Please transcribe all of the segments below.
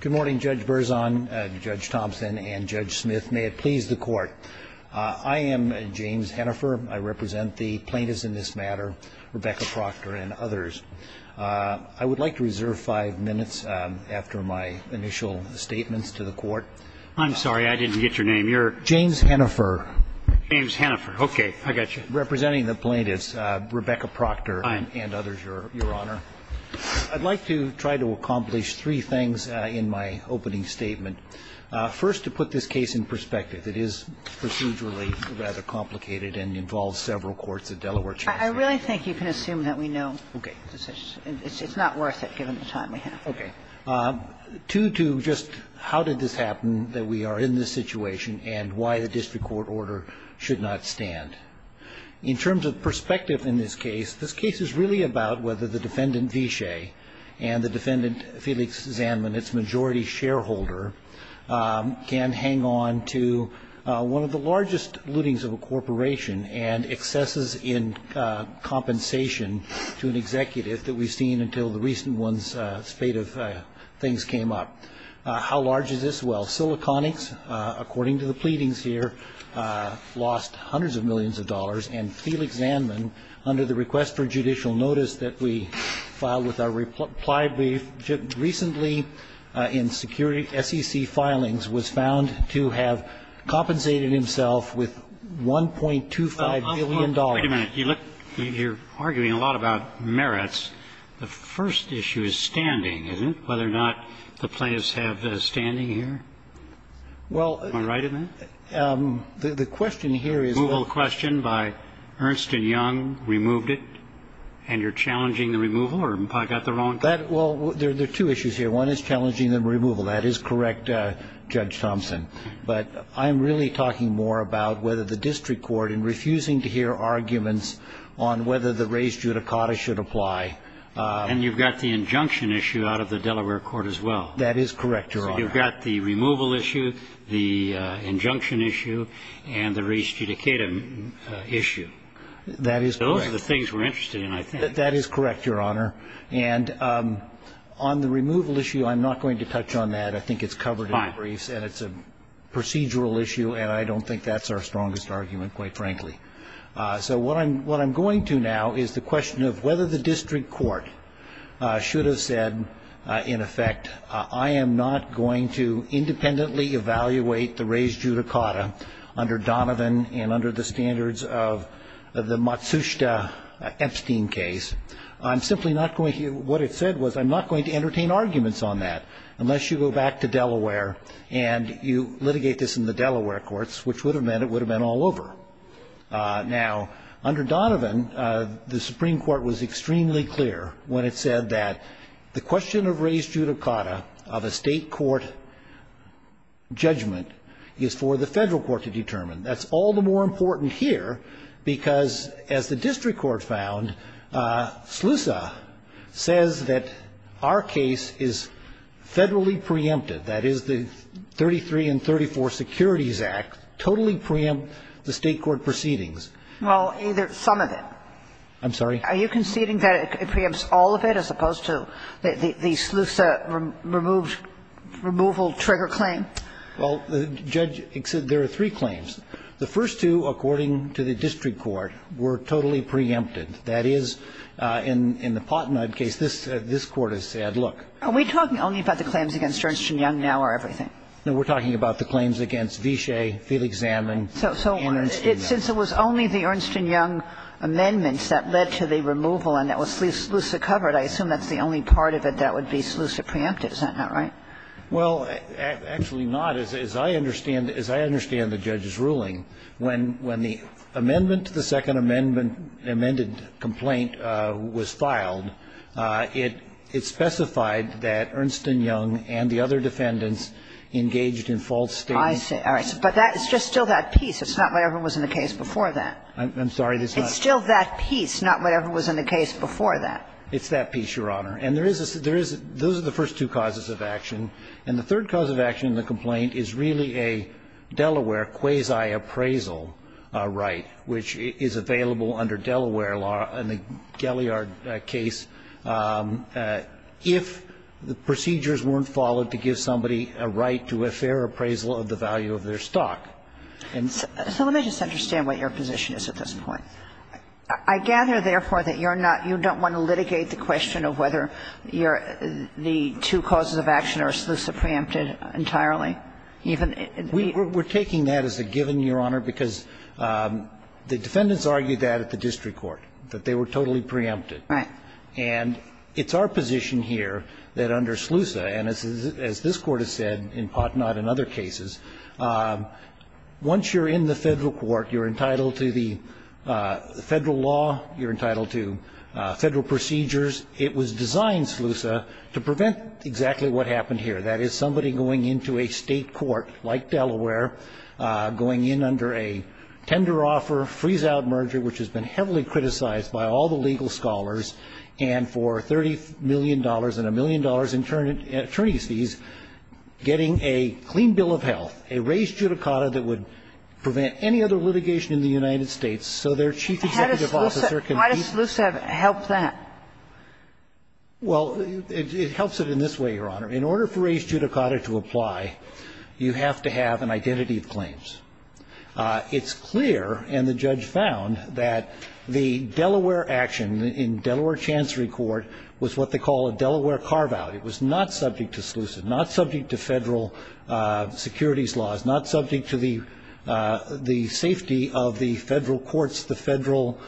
Good morning, Judge Berzon, Judge Thompson, and Judge Smith. May it please the Court. I am James Hennifer. I represent the plaintiffs in this matter, Rebecca Proctor and others. I would like to reserve five minutes after my initial statements to the Court. I'm sorry, I didn't get your name. James Hennifer. James Hennifer. Okay, I got you. Representing the plaintiffs, Rebecca Proctor and others, Your Honor. I'd like to try to accomplish three things in my opening statement. First, to put this case in perspective. It is procedurally rather complicated and involves several courts at Delaware. I really think you can assume that we know. Okay. It's not worth it given the time we have. Okay. Two to just how did this happen that we are in this situation and why the district court order should not stand. In terms of perspective in this case, this case is really about whether the defendant, Vishay, and the defendant, Felix Zanman, its majority shareholder, can hang on to one of the largest lootings of a corporation and excesses in compensation to an executive that we've seen until the recent one's spate of things came up. How large is this? Well, Siliconics, according to the pleadings here, lost hundreds of millions of dollars. And Felix Zanman, under the request for judicial notice that we filed with our reply brief, recently in SEC filings was found to have compensated himself with $1.25 million. Wait a minute. You're arguing a lot about merits. The first issue is standing, isn't it, whether or not the plaintiffs have standing here? Well. Am I right in that? The question here is. Removal question by Ernst and Young removed it, and you're challenging the removal, or have I got the wrong? Well, there are two issues here. One is challenging the removal. That is correct, Judge Thompson. But I'm really talking more about whether the district court, in refusing to hear arguments on whether the res judicata should apply. And you've got the injunction issue out of the Delaware court as well. That is correct, Your Honor. So you've got the removal issue, the injunction issue, and the res judicata issue. That is correct. Those are the things we're interested in, I think. That is correct, Your Honor. And on the removal issue, I'm not going to touch on that. I think it's covered in the briefs. Fine. And it's a procedural issue, and I don't think that's our strongest argument, quite frankly. So what I'm going to now is the question of whether the district court should have said, in effect, I am not going to independently evaluate the res judicata under Donovan and under the standards of the Matsushita-Epstein case. I'm simply not going to. What it said was I'm not going to entertain arguments on that unless you go back to Delaware and you litigate this in the Delaware courts, which would have meant it would have been all over. Now, under Donovan, the Supreme Court was extremely clear when it said that the question of res judicata, of a state court judgment, is for the federal court to determine. That's all the more important here because, as the district court found, SLUSA says that our case is federally preempted. That is, the 33 and 34 Securities Act totally preempted the state court proceedings. Well, either some of it. I'm sorry? Are you conceding that it preempts all of it as opposed to the SLUSA removal trigger claim? Well, Judge, there are three claims. The first two, according to the district court, were totally preempted. That is, in the Pottenaub case, this Court has said, look. Are we talking only about the claims against Ernst & Young now or everything? No. We're talking about the claims against Vishay, Felix Zamen and Ernst & Young. So since it was only the Ernst & Young amendments that led to the removal and that was SLUSA covered, I assume that's the only part of it that would be SLUSA preempted. Is that not right? Well, actually not. As I understand the judge's ruling, when the amendment to the Second Amendment amended complaint was filed, it specified that Ernst & Young and the other defendants engaged in false statements. I see. All right. But that's just still that piece. It's not whatever was in the case before that. I'm sorry? It's still that piece, not whatever was in the case before that. It's that piece, Your Honor. And there is a – those are the first two causes of action. And the third cause of action in the complaint is really a Delaware quasi-appraisal right, which is available under Delaware law in the Geliard case if the procedures weren't followed to give somebody a right to a fair appraisal of the value of their stock. So let me just understand what your position is at this point. I gather, therefore, that you're not – you don't want to litigate the question of whether you're – the two causes of action are SLUSA preempted entirely, even if – We're taking that as a given, Your Honor, because the defendants argued that at the district court, that they were totally preempted. Right. And it's our position here that under SLUSA, and as this Court has said in Potnot and other cases, once you're in the federal court, you're entitled to the federal law, you're entitled to federal procedures. It was designed, SLUSA, to prevent exactly what happened here, that is, somebody going into a state court like Delaware, going in under a tender offer, freeze-out merger, which has been heavily criticized by all the legal scholars, and for $30 million and a million dollars in attorney's fees, getting a clean bill of health, a raised judicata that would prevent any other litigation in the United States so their chief executive officer can be – Why does SLUSA help that? Well, it helps it in this way, Your Honor. In order for raised judicata to apply, you have to have an identity of claims. It's clear, and the judge found, that the Delaware action in Delaware Chancery Court was what they call a Delaware carve-out. It was not subject to SLUSA, not subject to federal securities laws, not subject to the safety of the federal courts, the federal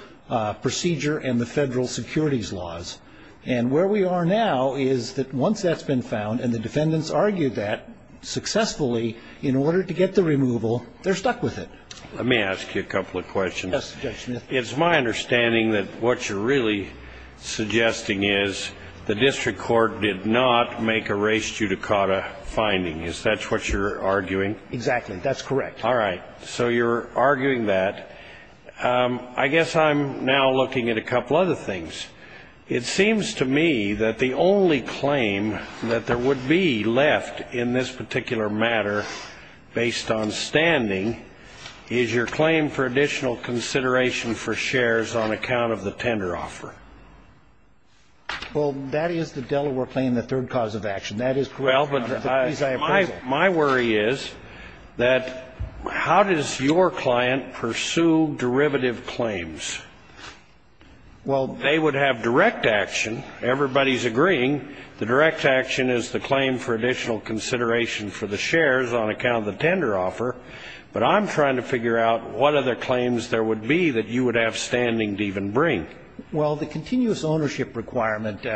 procedure, and the federal securities laws. And where we are now is that once that's been found, and the defendants argued that successfully, in order to get the removal, they're stuck with it. Let me ask you a couple of questions. Yes, Judge Smith. It's my understanding that what you're really suggesting is the district court did not make a raised judicata finding. Is that what you're arguing? Exactly. That's correct. All right. So you're arguing that. I guess I'm now looking at a couple other things. It seems to me that the only claim that there would be left in this particular matter based on standing is your claim for additional consideration for shares on account of the tender offer. Well, that is the Delaware claim, the third cause of action. That is correct. Well, but my worry is that how does your client pursue derivative claims? Well, they would have direct action. Everybody's agreeing. The direct action is the claim for additional consideration for the shares on account of the tender offer. But I'm trying to figure out what other claims there would be that you would have standing to even bring. Well, the continuous ownership requirement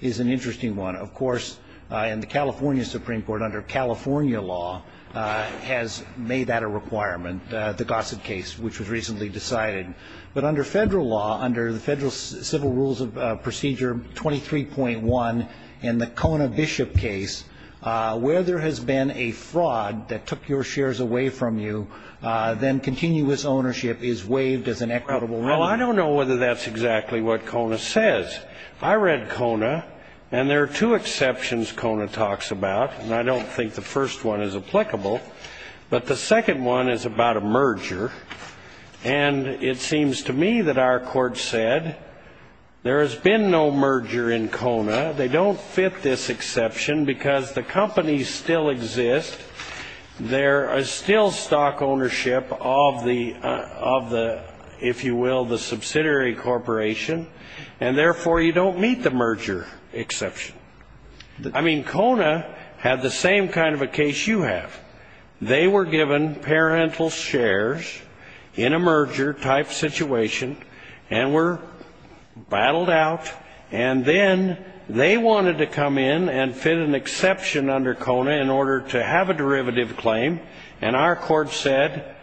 is an interesting one. Of course, in the California Supreme Court, under California law, has made that a requirement, the Gossett case, which was recently decided. But under federal law, under the Federal Civil Rules of Procedure 23.1 in the Kona Bishop case, where there has been a fraud that took your shares away from you, then continuous ownership is waived as an equitable revenue. Well, I don't know whether that's exactly what Kona says. I read Kona, and there are two exceptions Kona talks about, and I don't think the first one is applicable. But the second one is about a merger. And it seems to me that our court said there has been no merger in Kona. They don't fit this exception because the companies still exist. There is still stock ownership of the, if you will, the subsidiary corporation, and therefore you don't meet the merger exception. I mean, Kona had the same kind of a case you have. They were given parental shares in a merger-type situation and were battled out, and then they wanted to come in and fit an exception under Kona in order to have a derivative claim, and our court said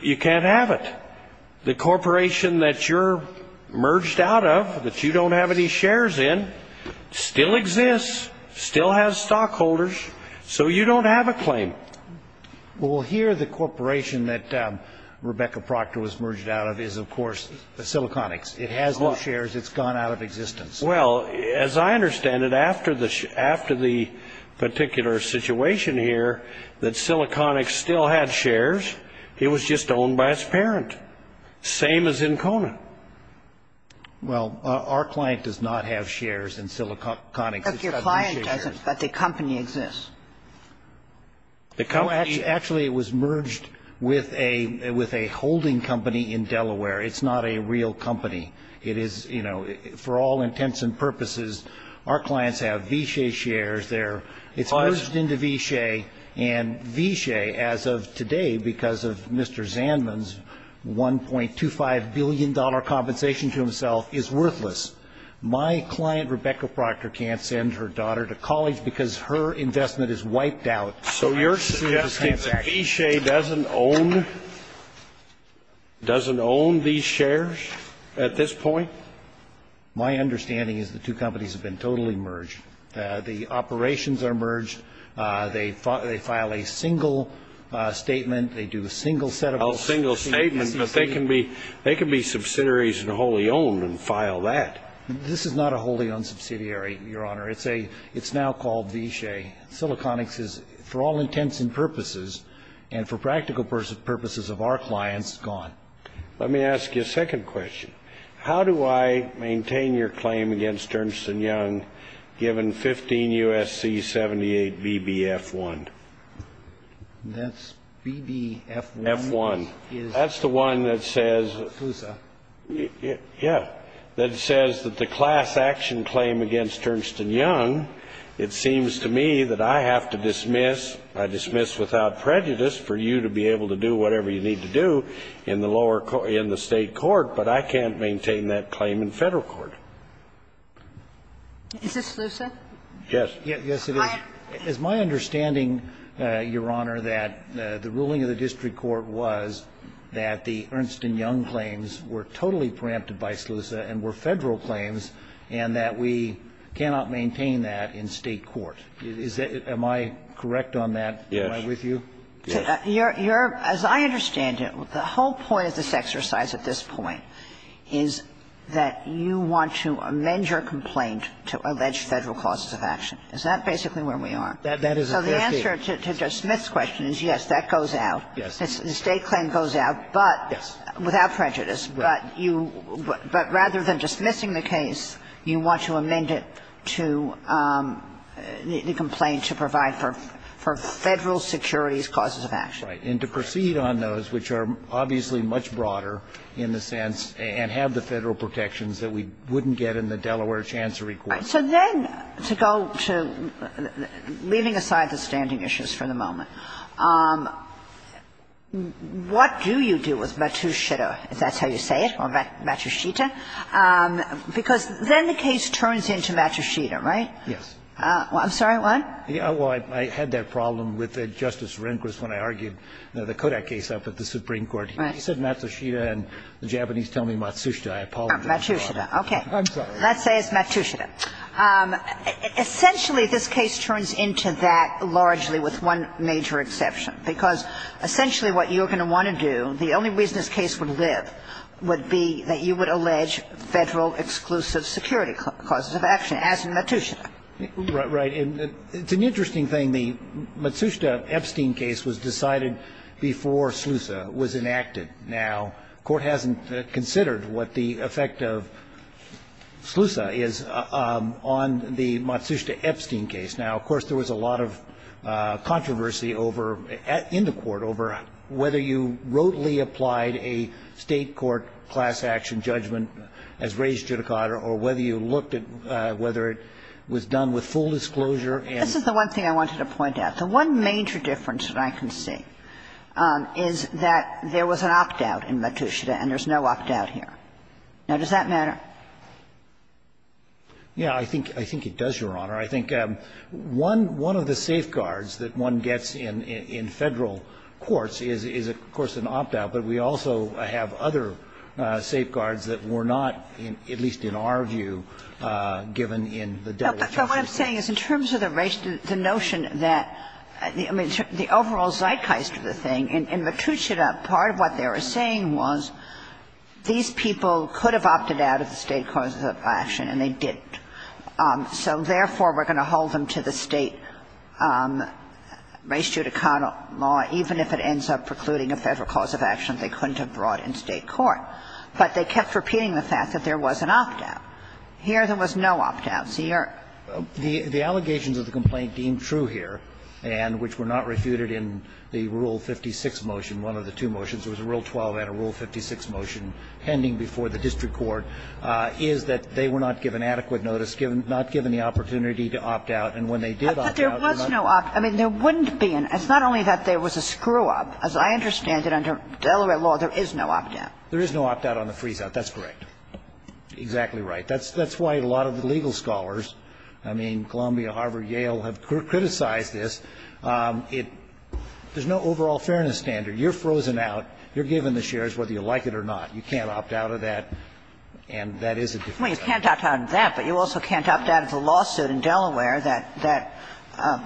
you can't have it. The corporation that you're merged out of, that you don't have any shares in, still exists, still has stockholders, so you don't have a claim. Well, here the corporation that Rebecca Proctor was merged out of is, of course, Siliconics. It has no shares. It's gone out of existence. Well, as I understand it, after the particular situation here that Siliconics still had shares, it was just owned by its parent, same as in Kona. Well, our client does not have shares in Siliconics. Your client doesn't, but the company exists. Actually, it was merged with a holding company in Delaware. It's not a real company. It is, you know, for all intents and purposes, our clients have Vishay shares. It's merged into Vishay, and Vishay, as of today, because of Mr. Zandman's $1.25 billion compensation to himself, is worthless. My client, Rebecca Proctor, can't send her daughter to college because her investment is wiped out. So you're suggesting that Vishay doesn't own these shares at this point? My understanding is the two companies have been totally merged. The operations are merged. They file a single statement. They do a single set of operations. A single statement, but they can be subsidiaries and wholly owned and file that. This is not a wholly owned subsidiary, Your Honor. It's now called Vishay. Siliconics is, for all intents and purposes, and for practical purposes of our clients, gone. Let me ask you a second question. How do I maintain your claim against Ernst & Young, given 15 U.S.C. 78 BBF1? That's BBF1? That's the one that says the class action claim against Ernst & Young. It seems to me that I have to dismiss. I dismiss without prejudice for you to be able to do whatever you need to do in the lower court, in the State court, but I can't maintain that claim in Federal court. Is this SLUSA? Yes. Yes, it is. It's my understanding, Your Honor, that the ruling of the district court was that the Ernst & Young claims were totally preempted by SLUSA and were Federal claims, and that we cannot maintain that in State court. Am I correct on that? Yes. Am I with you? Yes. As I understand it, the whole point of this exercise at this point is that you want to amend your complaint to allege Federal causes of action. Is that basically where we are? That is a fair statement. So the answer to Smith's question is yes, that goes out. Yes. The State claim goes out, but without prejudice. Right. But you – but rather than dismissing the case, you want to amend it to the complaint to provide for Federal securities causes of action. Right. And to proceed on those, which are obviously much broader in the sense and have the to go to – leaving aside the standing issues for the moment, what do you do with Matsushita, if that's how you say it, or Matsushita? Because then the case turns into Matsushita, right? Yes. I'm sorry, what? Well, I had that problem with Justice Rehnquist when I argued the Kodak case up at the Supreme Court. Right. He said Matsushita, and the Japanese tell me Matsushita. Matsushita. Okay. I'm sorry. Let's say it's Matsushita. Essentially, this case turns into that largely with one major exception, because essentially what you're going to want to do, the only reason this case would live would be that you would allege Federal exclusive security causes of action, as in Matsushita. Right. And it's an interesting thing. The Matsushita-Epstein case was decided before SLUSA was enacted. Now, court hasn't considered what the effect of SLUSA is on the Matsushita-Epstein case. Now, of course, there was a lot of controversy over at the end of court over whether you wrotely applied a State court class action judgment as raised judicata, or whether you looked at whether it was done with full disclosure. This is the one thing I wanted to point out. The one major difference that I can see is that there was an opt-out in Matsushita and there's no opt-out here. Now, does that matter? Yeah, I think it does, Your Honor. I think one of the safeguards that one gets in Federal courts is, of course, an opt-out, but we also have other safeguards that were not, at least in our view, given in the overall zeitgeist of the thing. In Matsushita, part of what they were saying was these people could have opted out of the State cause of action, and they didn't. So therefore, we're going to hold them to the State raised judicata law even if it ends up precluding a Federal cause of action they couldn't have brought in State court. But they kept repeating the fact that there was an opt-out. Here, there was no opt-out. The allegations of the complaint deemed true here, and which were not refuted in the Rule 56 motion, one of the two motions, there was a Rule 12 and a Rule 56 motion pending before the district court, is that they were not given adequate notice, not given the opportunity to opt-out. And when they did opt-out, they're not going to be able to do that. But there was no opt-out. I mean, there wouldn't be an opt-out. It's not only that there was a screw-up. As I understand it, under Delaware law, there is no opt-out. There is no opt-out on the freeze-out. That's correct. Exactly right. That's why a lot of the legal scholars, I mean, Columbia, Harvard, Yale, have criticized this. It – there's no overall fairness standard. You're frozen out. You're given the shares whether you like it or not. You can't opt-out of that. And that is a difference. Well, you can't opt-out of that, but you also can't opt-out of the lawsuit in Delaware that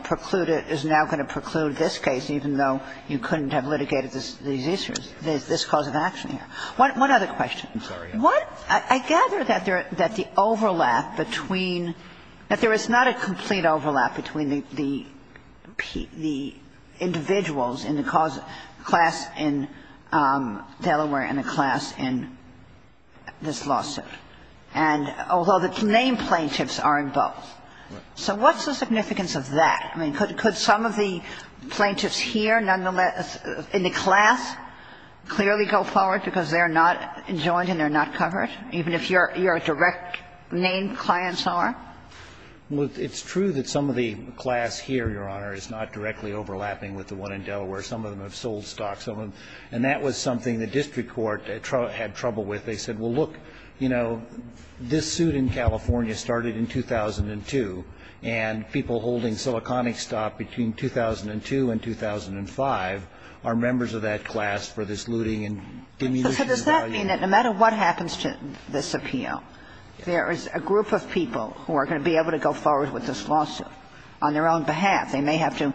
precluded – is now going to preclude this case, even though you couldn't have litigated these issues, this cause of action here. One other question. I'm sorry. What – I gather that there – that the overlap between – that there is not a complete overlap between the – the individuals in the cause – class in Delaware and the class in this lawsuit, and – although the named plaintiffs are in both. So what's the significance of that? I mean, could some of the plaintiffs here nonetheless – in the class clearly go forward because they're not enjoined and they're not covered? Even if your – your direct named clients are? Well, it's true that some of the class here, Your Honor, is not directly overlapping with the one in Delaware. Some of them have sold stocks. Some of them – and that was something the district court had trouble with. They said, well, look, you know, this suit in California started in 2002, and people holding Siliconic stock between 2002 and 2005 are members of that class for this lawsuit. And that's not to say that we're not going to be able to proceed with this lawsuit when there's a bias precluding and diminishing the value of it. So does that mean that no matter what happens to this appeal, there is a group of people who are going to be able to go forward with this lawsuit on their own behalf? They may have to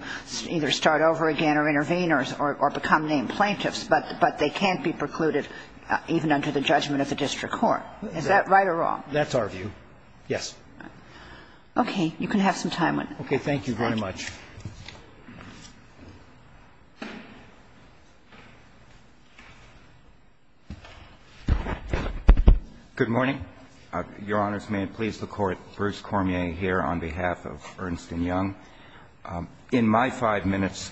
either start over again or intervene or become named plaintiffs, but they can't be precluded even under the judgment of the district court. Is that right or wrong? That's our view. Yes. Okay. You can have some time. Okay. Thank you very much. Good morning. Your Honors, may it please the Court. Bruce Cormier here on behalf of Ernst & Young. In my five minutes,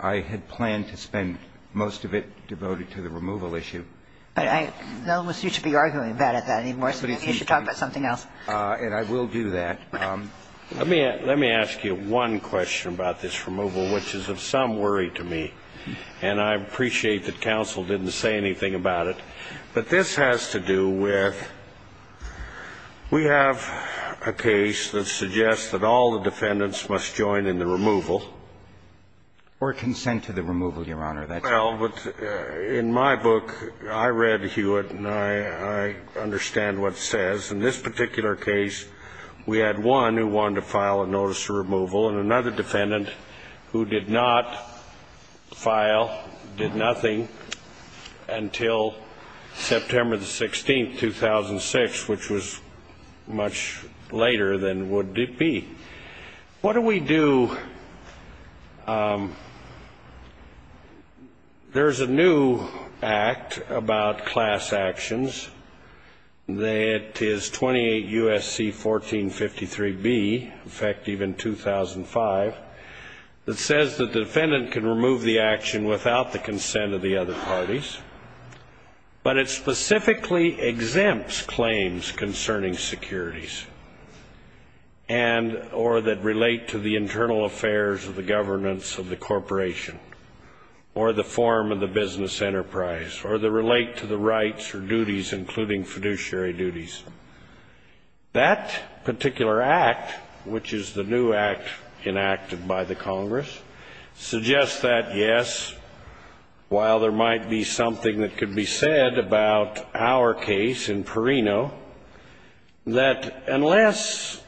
I had planned to spend most of it devoted to the removal issue. But I don't want you to be arguing bad at that anymore. You should talk about something else. And I will do that. Let me ask you one question about this removal, which is of some worry to me. And I appreciate that counsel didn't say anything about it. But this has to do with we have a case that suggests that all the defendants must join in the removal. Or consent to the removal, Your Honor. Well, in my book, I read Hewitt and I understand what it says. In this particular case, we had one who wanted to file a notice of removal and another defendant who did not file, did nothing until September the 16th, 2006, which was much later than would be. What do we do? There's a new act about class actions that is 28 U.S.C. 1453B, effective in 2005, that says the defendant can remove the action without the consent of the other parties. But it specifically exempts claims concerning securities. And or that relate to the internal affairs of the governance of the corporation. Or the form of the business enterprise. Or that relate to the rights or duties, including fiduciary duties. That particular act, which is the new act enacted by the Congress, suggests that, yes, while there might be something that could be said about our case in Perino, that unless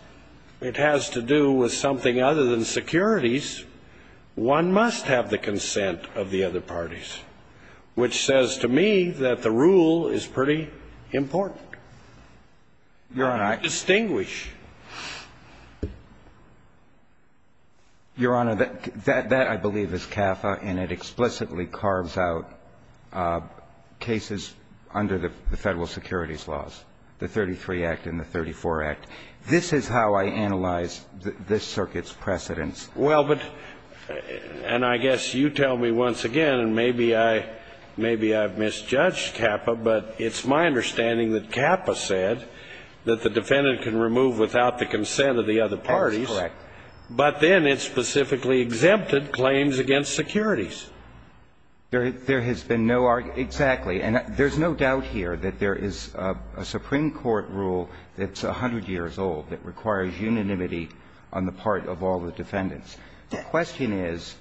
it has to do with something other than securities, one must have the consent of the other parties. Which says to me that the rule is pretty important. You can't distinguish. Your Honor, that I believe is CAFA and it explicitly carves out cases under the Federal Securities Laws, the 33 Act and the 34 Act. This is how I analyze this circuit's precedents. Well, but, and I guess you tell me once again, and maybe I've misjudged CAFA, but it's my understanding that CAFA said that the defendant can remove without the consent of the other parties. That's correct. But then it specifically exempted claims against securities. There has been no argument. Exactly. And there's no doubt here that there is a Supreme Court rule that's 100 years old that requires unanimity on the part of all the defendants. The question is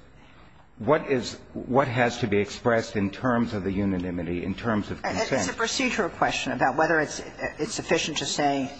what is what has to be expressed in terms of the unanimity, in terms of consent? It's a procedural question about whether it's sufficient to say.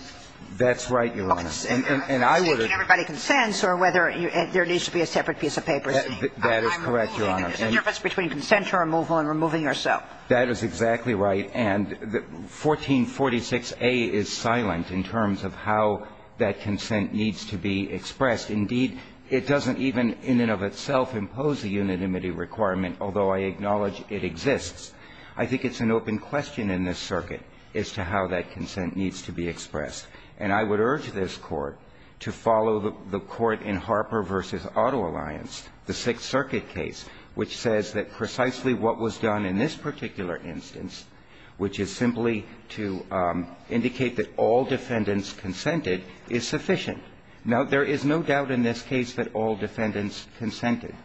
That's right, Your Honor. And I would have. Everybody consents or whether there needs to be a separate piece of paper. That is correct, Your Honor. There's a difference between consent to removal and removing yourself. That is exactly right. And 1446a is silent in terms of how that consent needs to be expressed. Indeed, it doesn't even in and of itself impose a unanimity requirement, although I acknowledge it exists. I think it's an open question in this circuit as to how that consent needs to be expressed. And I would urge this Court to follow the court in Harper v. Auto Alliance, the Sixth Circuit case, which says that precisely what was done in this particular instance, which is simply to indicate that all defendants consented, is sufficient. Now, there is no doubt in this case that all defendants consented.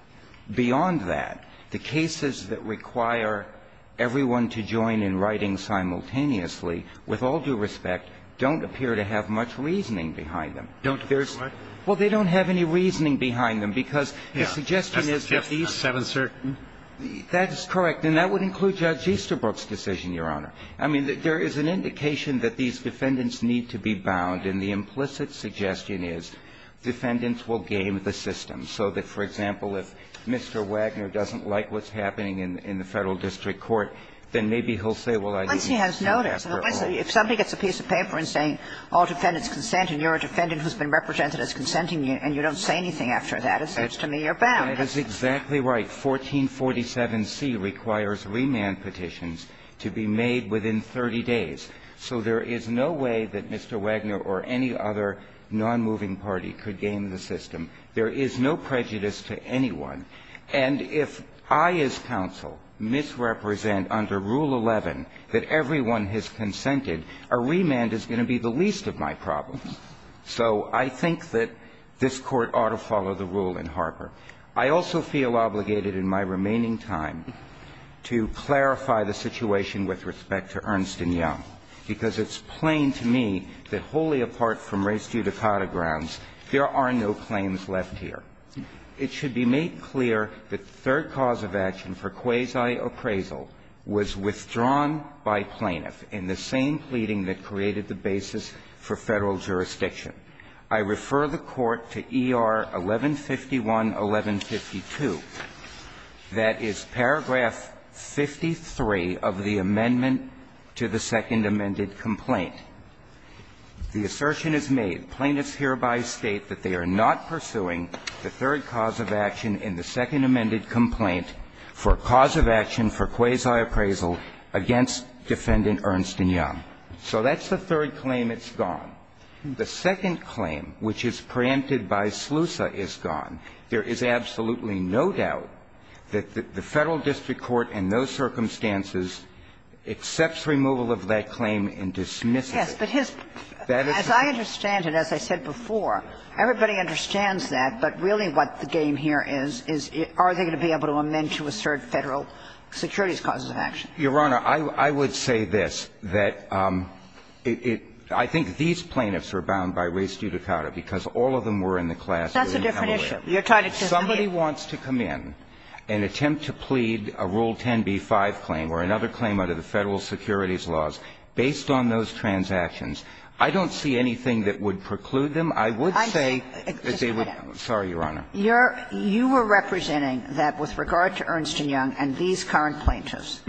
Beyond that, the cases that require everyone to join in writing simultaneously with all due respect don't appear to have much reasoning behind them. Don't what? Well, they don't have any reasoning behind them because the suggestion is that these are uncertain. That is correct. And that would include Judge Easterbrook's decision, Your Honor. I mean, there is an indication that these defendants need to be bound, and the implicit suggestion is defendants will game the system so that, for example, if Mr. Wagner doesn't like what's happening in the Federal district court, then maybe he'll say, well, I didn't do it after all. But once he has noticed, if somebody gets a piece of paper saying all defendants consent and you're a defendant who's been represented as consenting and you don't say anything after that, it says to me you're bound. That is exactly right. 1447C requires remand petitions to be made within 30 days. So there is no way that Mr. Wagner or any other nonmoving party could game the system. There is no prejudice to anyone. And if I as counsel misrepresent under Rule 11 that everyone has consented, a remand is going to be the least of my problems. So I think that this Court ought to follow the rule in Harper. I also feel obligated in my remaining time to clarify the situation with respect to Ernst & Young, because it's plain to me that wholly apart from race-judicata grounds, there are no claims left here. It should be made clear that the third cause of action for quasi-appraisal was withdrawn by plaintiff in the same pleading that created the basis for Federal jurisdiction. I refer the Court to ER 1151-1152, that is, paragraph 53 of the amendment to the second amended complaint. The assertion is made, plaintiffs hereby state that they are not pursuing the third cause of action in the second amended complaint for cause of action for quasi-appraisal against Defendant Ernst & Young. So that's the third claim. It's gone. The second claim, which is preempted by SLUSA, is gone. There is absolutely no doubt that the Federal district court in those circumstances accepts removal of that claim and dismisses it. But his – as I understand it, as I said before, everybody understands that, but really what the game here is, is are they going to be able to amend to assert Federal security's causes of action? Your Honor, I would say this, that it – I think these plaintiffs were bound by race-judicata because all of them were in the class. That's a different issue. Somebody wants to come in and attempt to plead a Rule 10b-5 claim where another claim under the Federal security's laws, based on those transactions, I don't see anything that would preclude them. I would say that they would – sorry, Your Honor. You're – you were representing that with regard to Ernst & Young and these current plaintiffs,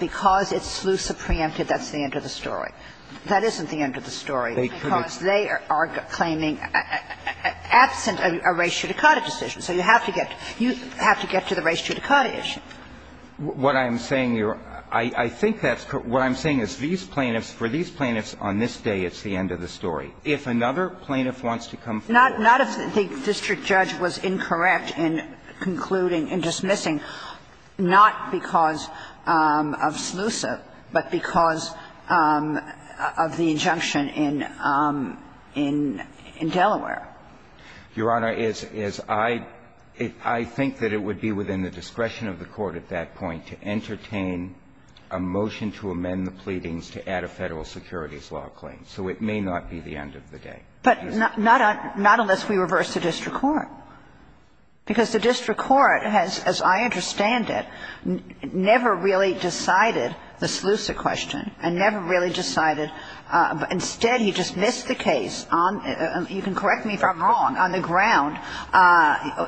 because it's SLUSA preempted, that's the end of the story. That isn't the end of the story, because they are claiming – absent a race-judicata decision. So you have to get – you have to get to the race-judicata issue. What I'm saying, Your Honor, I think that's – what I'm saying is these plaintiffs – for these plaintiffs, on this day, it's the end of the story. If another plaintiff wants to come forward. Not if the district judge was incorrect in concluding, in dismissing, not because of SLUSA, but because of the injunction in Delaware. Your Honor, is – is I – I think that it would be within the discretion of the court at that point to entertain a motion to amend the pleadings to add a Federal security's law claim. So it may not be the end of the day. But not – not unless we reverse the district court. Because the district court has, as I understand it, never really decided the SLUSA question, and never really decided – instead, he dismissed the case on – you can correct me if I'm wrong – on the ground,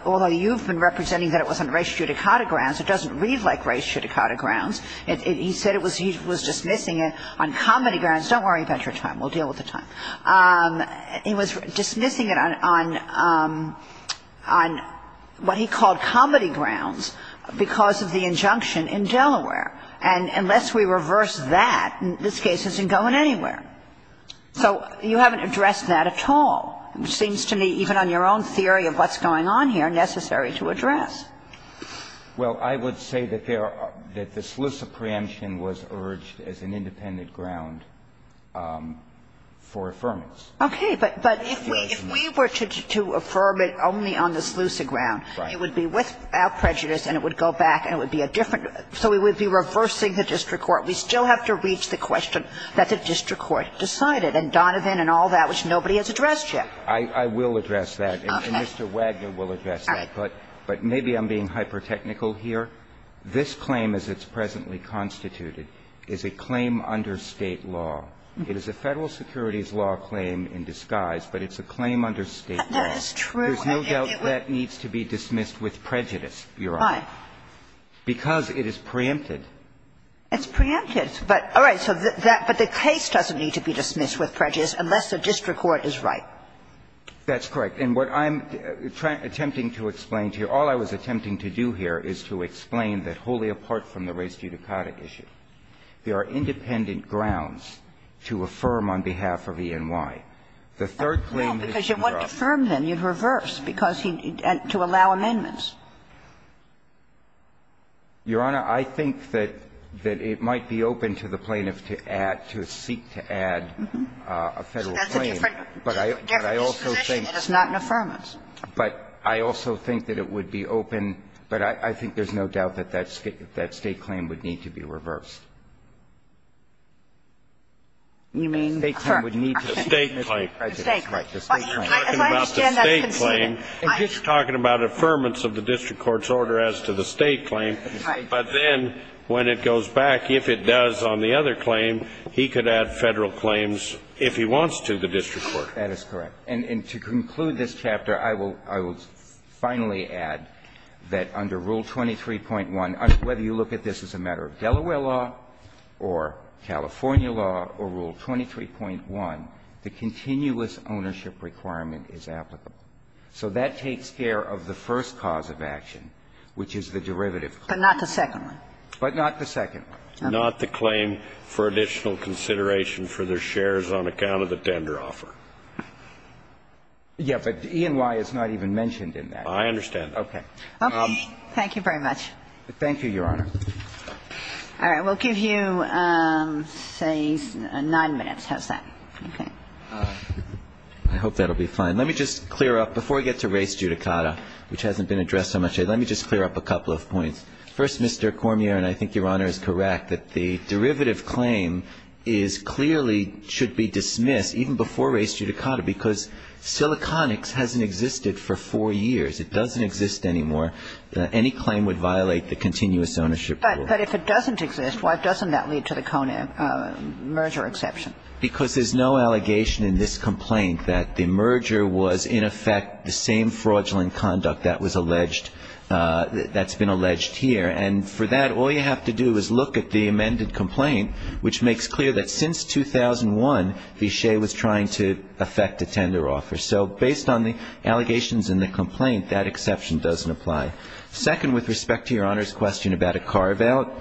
although you've been representing that it was on race-judicata grounds, it doesn't read like race-judicata grounds. He said it was – he was dismissing it on comedy grounds. Don't worry about your time. We'll deal with the time. He was dismissing it on – on what he called comedy grounds because of the injunction in Delaware. And unless we reverse that, this case isn't going anywhere. So you haven't addressed that at all. It seems to me, even on your own theory of what's going on here, necessary to address. Gershengorn Well, I would say that there – that the SLUSA preemption was urged as an independent ground for affirmance. Kagan Okay. But if we were to affirm it only on the SLUSA ground, it would be without prejudice and it would go back and it would be a different – so we would be reversing the district court. We still have to reach the question that the district court decided and Donovan and all that, which nobody has addressed yet. Gershengorn I will address that. Kagan Okay. Gershengorn And Mr. Wagner will address that. Kagan All right. Gershengorn But maybe I'm being hyper-technical here. This claim, as it's presently constituted, is a claim under State law. It is a Federal securities law claim in disguise, but it's a claim under State law. Kagan That is true. Gershengorn There's no doubt that needs to be dismissed with prejudice, Your Honor. Kagan Why? Gershengorn Because it is preempted. Kagan It's preempted. But all right. So that – but the case doesn't need to be dismissed with prejudice unless the district court is right. Gershengorn That's correct. And what I'm attempting to explain to you, all I was attempting to do here is to explain that wholly apart from the race judicata issue, there are independent grounds to affirm on behalf of E&Y. The third claim is in the rough. Kagan Well, because you wouldn't affirm them. You'd reverse because he – to allow amendments. Gershengorn Your Honor, I think that it might be open to the plaintiff to add – to seek to add a Federal claim. Kagan Uh-huh. So that's a different disposition and it's not an affirmance. Gershengorn But I also think that it would be open – but I think there's no doubt that that State claim would need to be reversed. Kagan Affirm. The State claim. Gershengorn Right. The State claim. I'm talking about the State claim. I'm just talking about affirmance of the district court's order as to the State claim, but then when it goes back, if it does on the other claim, he could add Federal claims if he wants to the district court. Gershengorn That is correct. And to conclude this chapter, I will finally add that under Rule 23.1, whether you look at this as a matter of Delaware law or California law or Rule 23.1, the continuous ownership requirement is applicable. So that takes care of the first cause of action, which is the derivative claim. Kagan But not the second one. Gershengorn But not the second one. Scalia Not the claim for additional consideration for their shares on account of the tender offer. Gershengorn Yeah, but E&Y is not even mentioned in that. Scalia I understand that. Gershengorn Okay. Kagan Okay. Thank you very much. Gershengorn Thank you, Your Honor. Kagan All right. We'll give you, say, 9 minutes. How's that? Okay. I hope that will be fine. Let me just clear up, before I get to res judicata, which hasn't been addressed so much, let me just clear up a couple of points. First, Mr. Cormier, and I think Your Honor is correct, that the derivative claim is clearly, should be dismissed, even before res judicata, because siliconics hasn't existed for four years. It doesn't exist anymore. Any claim would violate the continuous ownership rule. Kagan But if it doesn't exist, why doesn't that lead to the CONA merger exception? Because there's no allegation in this complaint that the merger was, in effect, the same fraudulent conduct that was alleged, that's been alleged here. And for that, all you have to do is look at the amended complaint, which makes clear that since 2001, Vishay was trying to effect a tender offer. So based on the allegations in the complaint, that exception doesn't apply. Second, with respect to Your Honor's question about a carve-out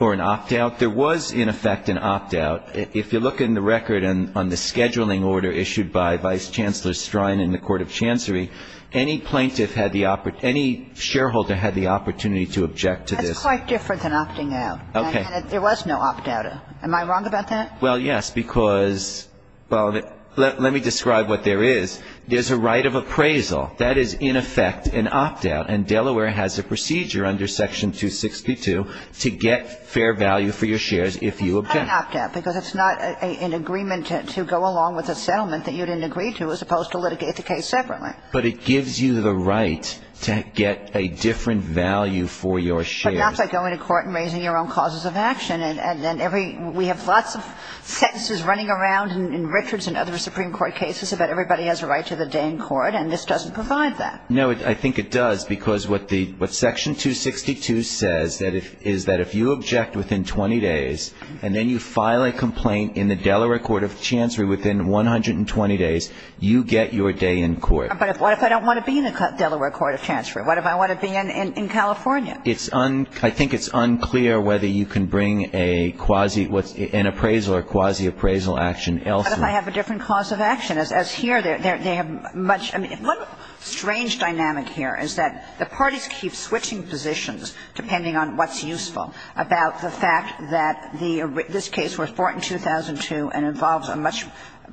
or an opt-out, there was, in effect, an opt-out. If you look in the record on the scheduling order issued by Vice Chancellor Strine in the Court of Chancery, any plaintiff had the, any shareholder had the opportunity to object to this. That's quite different than opting out. Okay. And there was no opt-out. Am I wrong about that? Well, yes, because, well, let me describe what there is. There's a right of appraisal. That is, in effect, an opt-out. And Delaware has a procedure under Section 262 to get fair value for your shares if you object. But it's not an opt-out, because it's not an agreement to go along with a settlement that you didn't agree to, as opposed to litigate the case separately. But it gives you the right to get a different value for your shares. But not by going to court and raising your own causes of action. And every we have lots of sentences running around in Richards and other Supreme Court cases about everybody has a right to the day in court, and this doesn't provide that. No, I think it does, because what the, what Section 262 says is that if you object within 20 days and then you file a complaint in the Delaware court of chancery within 120 days, you get your day in court. But what if I don't want to be in the Delaware court of chancery? What if I want to be in California? It's unclear. I think it's unclear whether you can bring a quasi, an appraisal or quasi-appraisal action elsewhere. But if I have a different cause of action, as here they have much, I mean, one strange dynamic here is that the parties keep switching positions depending on what's useful about the fact that the, this case was brought in 2002 and involves a much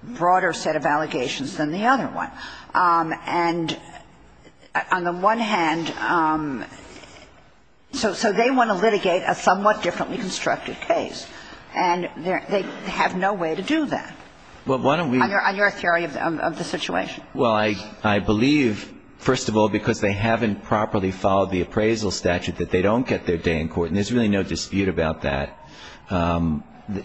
broader set of allegations than the other one. And on the one hand, so they want to litigate a somewhat differently constructed case. And they have no way to do that. On your theory of the situation. Well, I believe, first of all, because they haven't properly followed the appraisal statute, that they don't get their day in court. And there's really no dispute about that.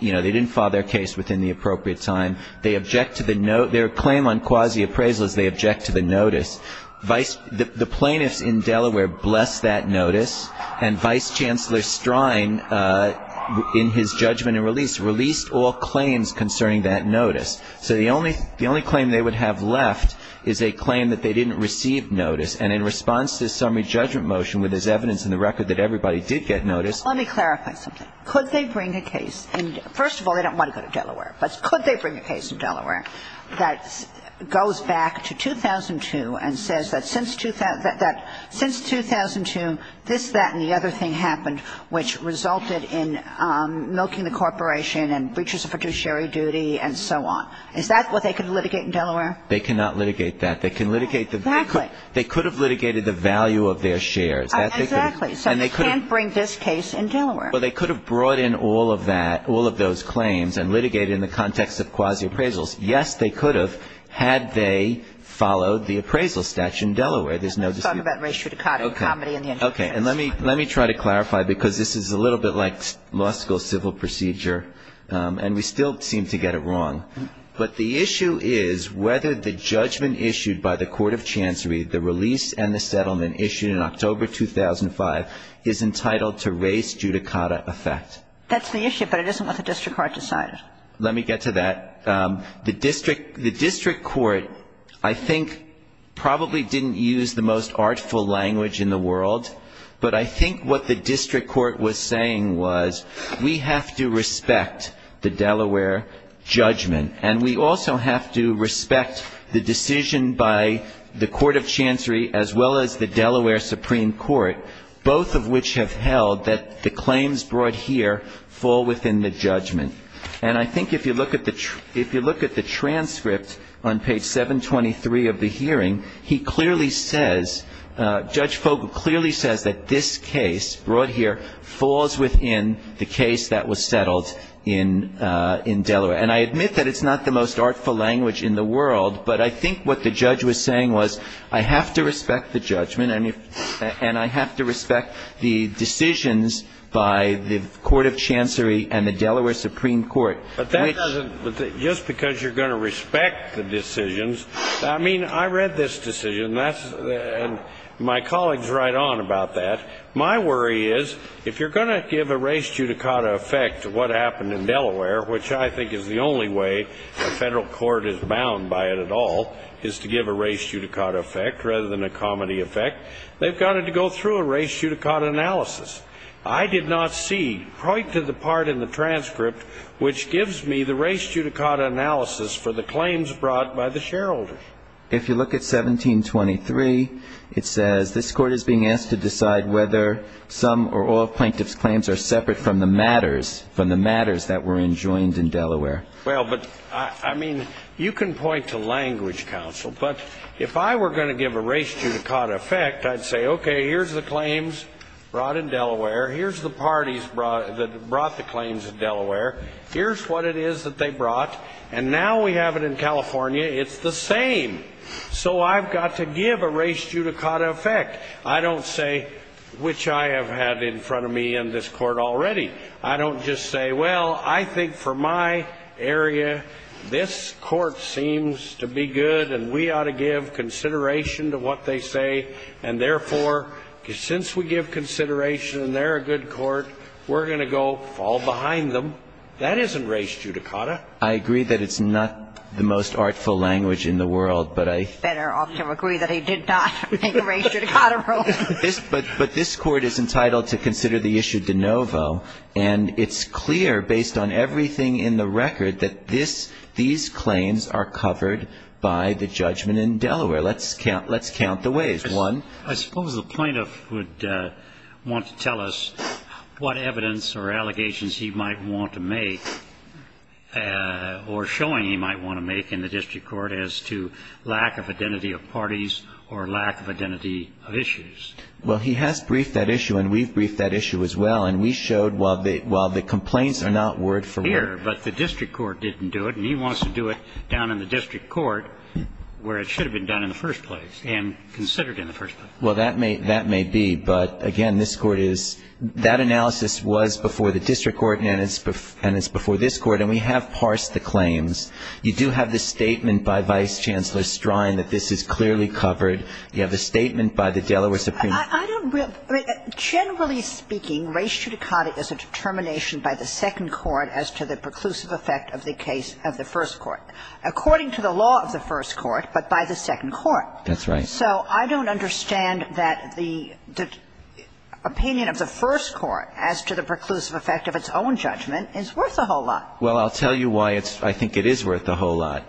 You know, they didn't follow their case within the appropriate time. They object to the, their claim on quasi-appraisal is they object to the notice. The plaintiffs in Delaware blessed that notice. And Vice Chancellor Strine, in his judgment and release, released all claims concerning that notice. So the only claim they would have left is a claim that they didn't receive notice. And in response to the summary judgment motion with his evidence in the record that everybody did get notice. Let me clarify something. Could they bring a case in, first of all, they don't want to go to Delaware. But could they bring a case in Delaware that goes back to 2002 and says that since 2002, this, that and the other thing happened, which resulted in milking the corporation and breaches of fiduciary duty and so on. Is that what they can litigate in Delaware? They cannot litigate that. They can litigate the. Exactly. They could have litigated the value of their shares. Exactly. So they can't bring this case in Delaware. Well, they could have brought in all of that, all of those claims and litigated in the context of quasi-appraisals. Yes, they could have had they followed the appraisal statute in Delaware. There's no dispute. Let's talk about ratio to cot and comedy in the injunctions. Okay. And let me, let me try to clarify because this is a little bit like law school civil procedure. And we still seem to get it wrong. But the issue is whether the judgment issued by the court of chancery, the release and the settlement issued in October 2005, is entitled to race judicata effect. That's the issue, but it isn't what the district court decided. Let me get to that. The district court, I think, probably didn't use the most artful language in the world. But I think what the district court was saying was we have to respect the Delaware judgment, and we also have to respect the decision by the court of chancery as well as the Delaware Supreme Court, both of which have held that the claims brought here fall within the judgment. And I think if you look at the transcript on page 723 of the hearing, he clearly says, Judge Fogle clearly says that this case brought here falls within the case that was passed in Delaware. And I admit that it's not the most artful language in the world, but I think what the judge was saying was I have to respect the judgment, and I have to respect the decisions by the court of chancery and the Delaware Supreme Court. But that doesn't, just because you're going to respect the decisions, I mean, I read this decision, and my colleagues write on about that. My worry is if you're going to give a race judicata effect to what happened in Delaware, which I think is the only way the federal court is bound by it at all, is to give a race judicata effect rather than a comedy effect, they've got to go through a race judicata analysis. I did not see right to the part in the transcript which gives me the race judicata analysis for the claims brought by the shareholders. If you look at 1723, it says this court is being asked to decide whether some or all claims were brought in Delaware. Well, but, I mean, you can point to language, counsel, but if I were going to give a race judicata effect, I'd say, okay, here's the claims brought in Delaware, here's the parties that brought the claims in Delaware, here's what it is that they brought, and now we have it in California, it's the same. So I've got to give a race judicata effect. I don't say, which I have had in front of me in this court already, I don't just say, well, I think for my area, this court seems to be good and we ought to give consideration to what they say, and therefore, since we give consideration and they're a good court, we're going to go fall behind them. That isn't race judicata. I agree that it's not the most artful language in the world, but I... Better off to agree that he did not make a race judicata rule. But this court is entitled to consider the issue de novo, and it's clear, based on everything in the record, that these claims are covered by the judgment in Delaware. Let's count the ways. One... I suppose the plaintiff would want to tell us what evidence or allegations he might want to make or showing he might want to make in the district court as to lack of identity of parties or lack of identity of issues. Well, he has briefed that issue, and we've briefed that issue as well, and we showed while the complaints are not word for word... Here, but the district court didn't do it, and he wants to do it down in the district court where it should have been done in the first place and considered in the first place. Well, that may be, but, again, this court is... That analysis was before the district court and it's before this court, and we have parsed the claims. You do have the statement by Vice Chancellor Strine that this is clearly covered. You have the statement by the Delaware Supreme Court. I don't really... Generally speaking, race judicata is a determination by the second court as to the preclusive effect of the case of the first court. According to the law of the first court, but by the second court. That's right. So I don't understand that the opinion of the first court as to the preclusive effect of its own judgment is worth a whole lot. Well, I'll tell you why I think it is worth a whole lot.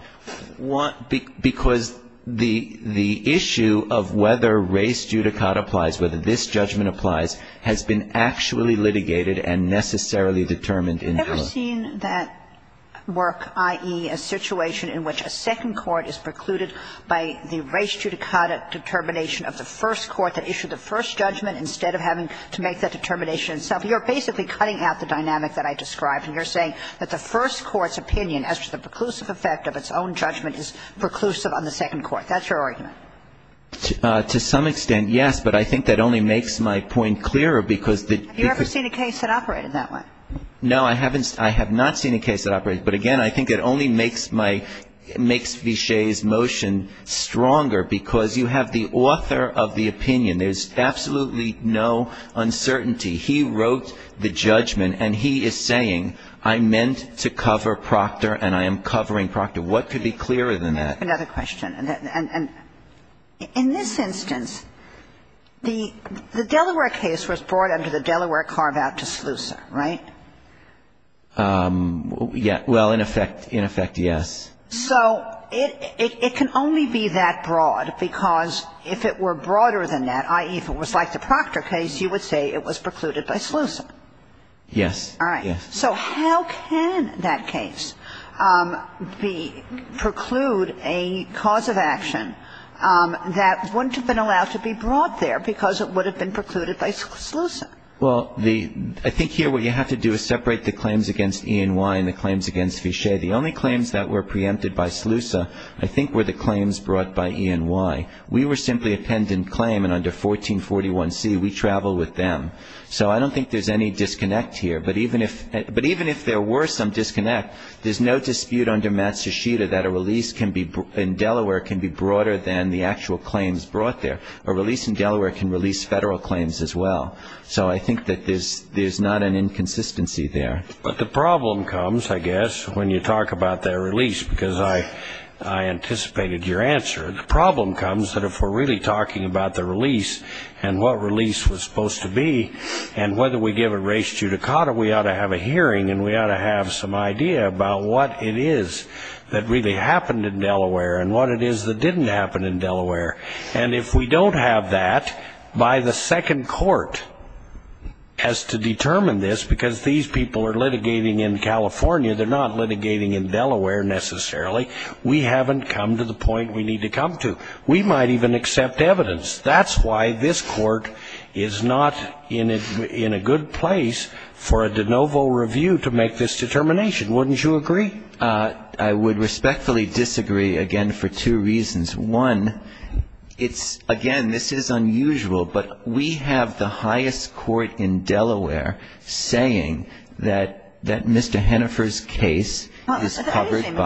Because the issue of whether race judicata applies, whether this judgment applies, has been actually litigated and necessarily determined in... Have you ever seen that work, i.e., a situation in which a second court is precluded by the race judicata determination of the first court that issued the first judgment instead of having to make that determination itself? You're basically cutting out the dynamic that I described, and you're saying that the first court's opinion as to the preclusive effect of its own judgment is preclusive on the second court. That's your argument? To some extent, yes. But I think that only makes my point clearer because the... Have you ever seen a case that operated that way? No, I haven't. I have not seen a case that operated. But, again, I think it only makes my... makes Viché's motion stronger because you have the author of the opinion. There's absolutely no uncertainty. He wrote the judgment, and he is saying, I meant to cover Procter, and I am covering Procter. What could be clearer than that? Another question. In this instance, the Delaware case was brought under the Delaware carve-out to Slusa, right? Well, in effect, yes. So it can only be that broad because if it were broader than that, i.e., if it was like the Procter case, you would say it was precluded by Slusa. Yes. All right. Yes. So how can that case preclude a cause of action that wouldn't have been allowed to be brought there because it would have been precluded by Slusa? Well, I think here what you have to do is separate the claims against E&Y and the claims against Viché. The only claims that were preempted by Slusa, I think, were the claims brought by E&Y. We were simply a pendant claim, and under 1441C, we traveled with them. So I don't think there's any disconnect here. But even if there were some disconnect, there's no dispute under Matsushita that a release in Delaware can be broader than the actual claims brought there. A release in Delaware can release Federal claims as well. So I think that there's not an inconsistency there. But the problem comes, I guess, when you talk about their release, because I anticipated your answer. The problem comes that if we're really talking about the release and what release was supposed to be and whether we give a res judicata, we ought to have a hearing and we ought to have some idea about what it is that really happened in Delaware and what it is that didn't happen in Delaware. And if we don't have that by the second court as to determine this, because these people are litigating in California, they're not litigating in Delaware necessarily, we haven't come to the point we need to come to. We might even accept evidence. That's why this Court is not in a good place for a de novo review to make this determination. Wouldn't you agree? I would respectfully disagree, again, for two reasons. One, it's, again, this is unusual, but we have the highest court in Delaware saying I don't think it's accurate,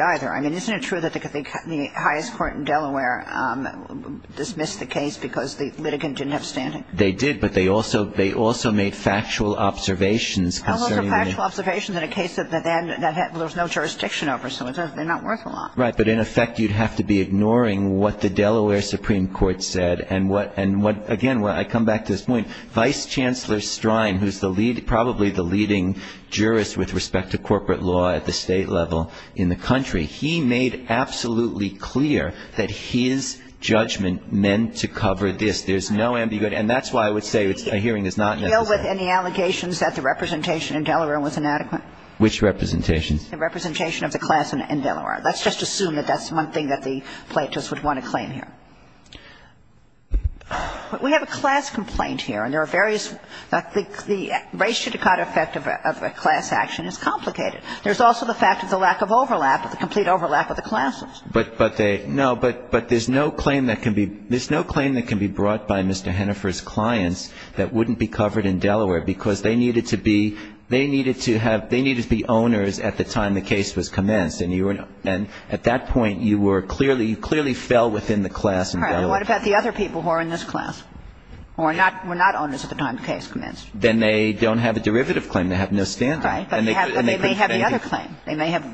either. I mean, isn't it true that the highest court in Delaware dismissed the case because the litigant didn't have standing? They did, but they also made factual observations. How much are factual observations in a case that then there was no jurisdiction over? So they're not worth a lot. Right. But, in effect, you'd have to be ignoring what the Delaware Supreme Court said and what, again, I come back to this point, Vice Chancellor Strine, who's probably the leading jurist with respect to corporate law at the state level in the country, he made absolutely clear that his judgment meant to cover this. There's no ambiguity. And that's why I would say a hearing is not necessary. Do you deal with any allegations that the representation in Delaware was inadequate? Which representation? The representation of the class in Delaware. Let's just assume that that's one thing that the plaintiffs would want to claim here. We have a class complaint here, and there are various the race should have got effect of a class action is complicated. There's also the fact of the lack of overlap, the complete overlap of the classes. But they no, but there's no claim that can be there's no claim that can be brought by Mr. Hennifer's clients that wouldn't be covered in Delaware because they needed to be they needed to have they needed to be owners at the time the case was commenced and you were and at that point you were clearly you clearly fell within the class in Delaware. All right. What about the other people who are in this class or not were not owners at the time the case commenced? Then they don't have a derivative claim. They have no standoff. Right. But they may have the other claim. They may have.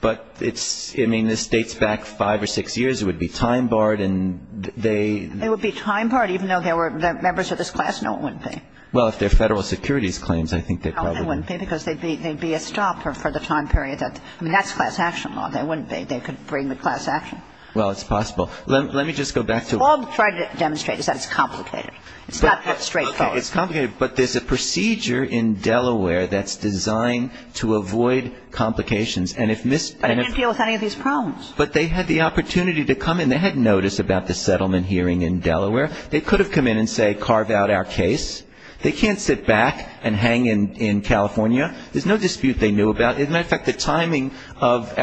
But it's I mean, this dates back five or six years. It would be time barred and they. It would be time barred even though there were members of this class. No, it wouldn't be. Well, if they're federal securities claims, I think they probably wouldn't be because they'd be they'd be a stopper for the time period. I mean, that's class action law. They wouldn't be. They could bring the class action. Well, it's possible. Let me just go back to. All I'm trying to demonstrate is that it's complicated. It's not that straightforward. It's complicated. But there's a procedure in Delaware that's designed to avoid complications. And if Ms. I can't deal with any of these problems. But they had the opportunity to come in. They had notice about the settlement hearing in Delaware. They could have come in and say carve out our case. They can't sit back and hang in California. There's no dispute they knew about. As a matter of fact, the timing of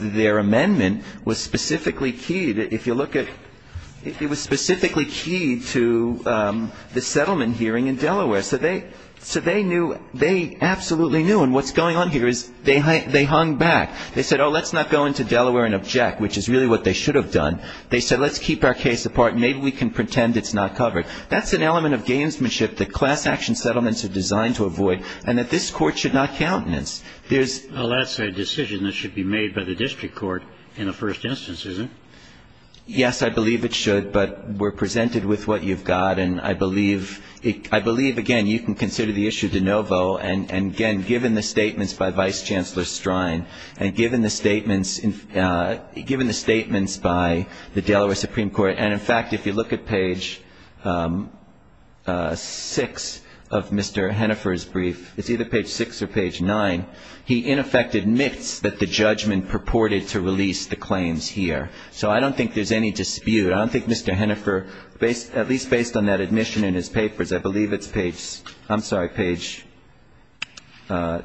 their amendment was specifically key. It was specifically key to the settlement hearing in Delaware. So they knew. They absolutely knew. And what's going on here is they hung back. They said, oh, let's not go into Delaware and object, which is really what they should have done. They said, let's keep our case apart. Maybe we can pretend it's not covered. That's an element of gamesmanship that class action settlements are designed to avoid and that this Court should not countenance. Well, that's a decision that should be made by the district court in the first instance, isn't it? Yes, I believe it should. But we're presented with what you've got. And I believe, again, you can consider the issue de novo. And, again, given the statements by Vice Chancellor Strine and given the statements by the Delaware Supreme Court, and, in fact, if you look at Page 6 of Mr. Hennifer's brief, it's either Page 6 or Page 9, he in effect admits that the judgment purported to release the claims here. So I don't think there's any dispute. I don't think Mr. Hennifer, at least based on that admission in his papers, I believe it's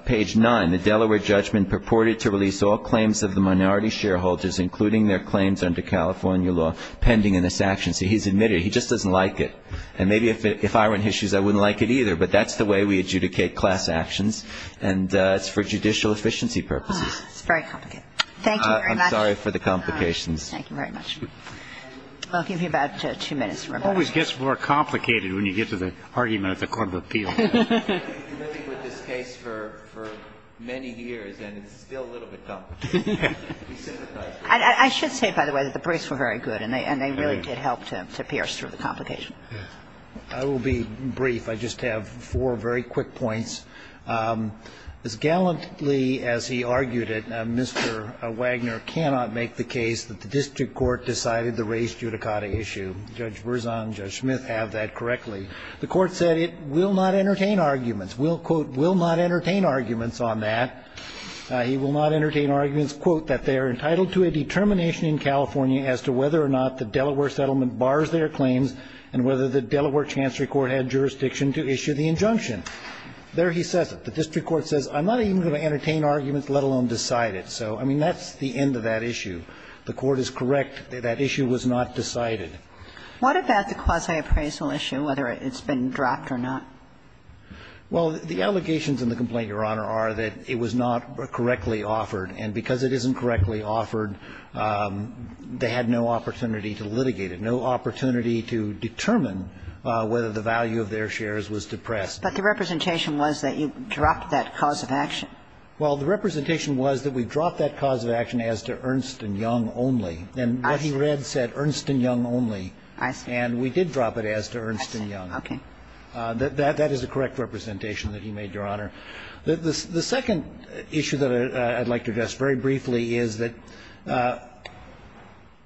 Page 9, the Delaware judgment purported to release all claims of the minority shareholders, including their claims under California law, pending in this action. So he's admitted it. He just doesn't like it. And maybe if I were in his shoes, I wouldn't like it either. But that's the way we adjudicate class actions, and it's for judicial efficiency purposes. It's very complicated. Thank you very much. I'm sorry for the complications. Thank you very much. I'll give you about two minutes. It always gets more complicated when you get to the argument at the court of appeals. I've been living with this case for many years, and it's still a little bit complicated. I should say, by the way, that the briefs were very good, and they really did help to pierce through the complications. I will be brief. I just have four very quick points. As gallantly as he argued it, Mr. Wagner cannot make the case that the district court decided the raised judicata issue. Judge Berzon and Judge Smith have that correctly. The court said it will not entertain arguments. Will, quote, will not entertain arguments on that. He will not entertain arguments, quote, that they are entitled to a determination in California as to whether or not the Delaware settlement bars their claims and whether the Delaware Chancery Court had jurisdiction to issue the injunction. There he says it. The district court says, I'm not even going to entertain arguments, let alone decide it. So, I mean, that's the end of that issue. The court is correct. That issue was not decided. And I think that's the end of that issue. What about the quasi-appraisal issue, whether it's been dropped or not? Well, the allegations in the complaint, Your Honor, are that it was not correctly offered, and because it isn't correctly offered, they had no opportunity to litigate it, no opportunity to determine whether the value of their shares was depressed. But the representation was that you dropped that cause of action. Well, the representation was that we dropped that cause of action as to Ernst & Young only, and what he read said Ernst & Young only. I see. And we did drop it as to Ernst & Young. I see. Okay. That is the correct representation that he made, Your Honor. The second issue that I'd like to address very briefly is that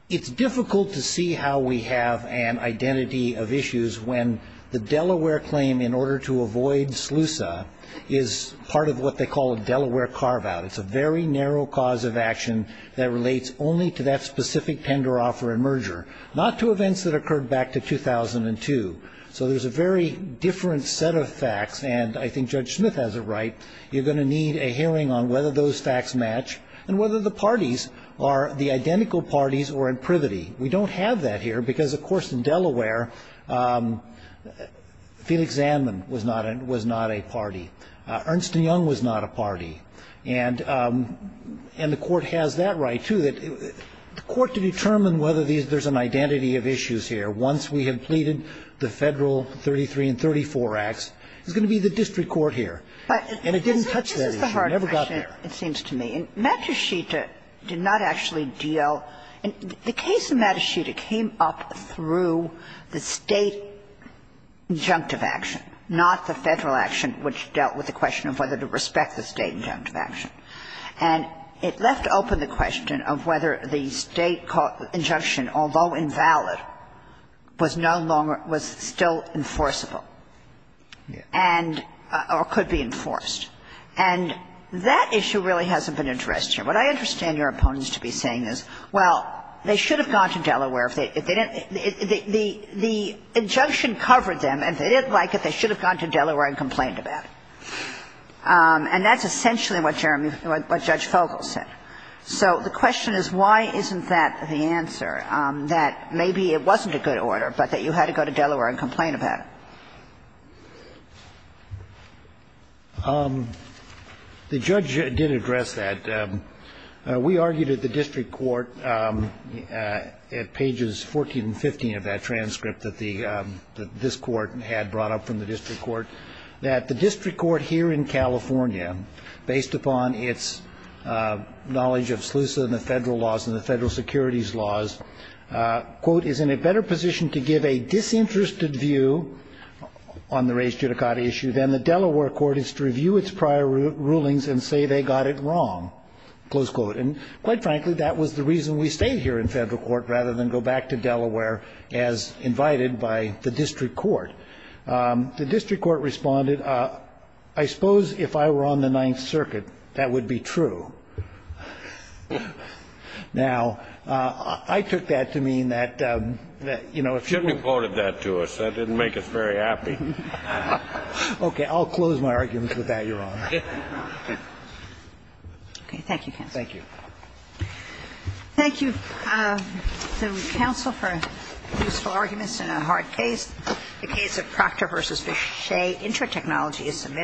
it's difficult to see how we have an identity of issues when the Delaware claim, in order to avoid SLUSA, is part of what they call a Delaware carve-out. It's a very narrow cause of action that relates only to that specific tender offer and merger, not to events that occurred back to 2002. So there's a very different set of facts, and I think Judge Smith has it right. You're going to need a hearing on whether those facts match and whether the parties are the identical parties or in privity. We don't have that here because, of course, in Delaware, Felix Zanman was not a party. Ernst & Young was not a party. And the Court has that right, too, that the Court to determine whether there's an identity of issues here, once we have pleaded the Federal 33 and 34 Acts, is going to be the district court here. And it didn't touch that issue. It never got there. But this is the hard question, it seems to me. Matushita did not actually deal. The case of Matushita came up through the State injunctive action, not the Federal injunctive action, which dealt with the question of whether to respect the State injunctive action. And it left open the question of whether the State injunction, although invalid, was no longer – was still enforceable and – or could be enforced. And that issue really hasn't been addressed here. What I understand your opponents to be saying is, well, they should have gone to Delaware if they didn't – if the injunction covered them and they didn't like it, they should have gone to Delaware and complained about it. And that's essentially what Jeremy – what Judge Fogel said. So the question is, why isn't that the answer, that maybe it wasn't a good order, but that you had to go to Delaware and complain about it? The judge did address that. We argued at the district court at pages 14 and 15 of that transcript that the – that the district court here in California, based upon its knowledge of SLUSA and the federal laws and the federal securities laws, quote, is in a better position to give a disinterested view on the race judicata issue than the Delaware court is to review its prior rulings and say they got it wrong, close quote. And quite frankly, that was the reason we stayed here in federal court rather than go back to Delaware as invited by the district court. The district court responded, I suppose if I were on the Ninth Circuit, that would be true. Now, I took that to mean that, you know, if you were – You should have reported that to us. That didn't make us very happy. Okay. I'll close my arguments with that, Your Honor. Okay. Thank you, counsel. Thank you. Thank you, counsel, for useful arguments in a hard case. The case of Proctor v. Vishay, Intratechnology, is submitted.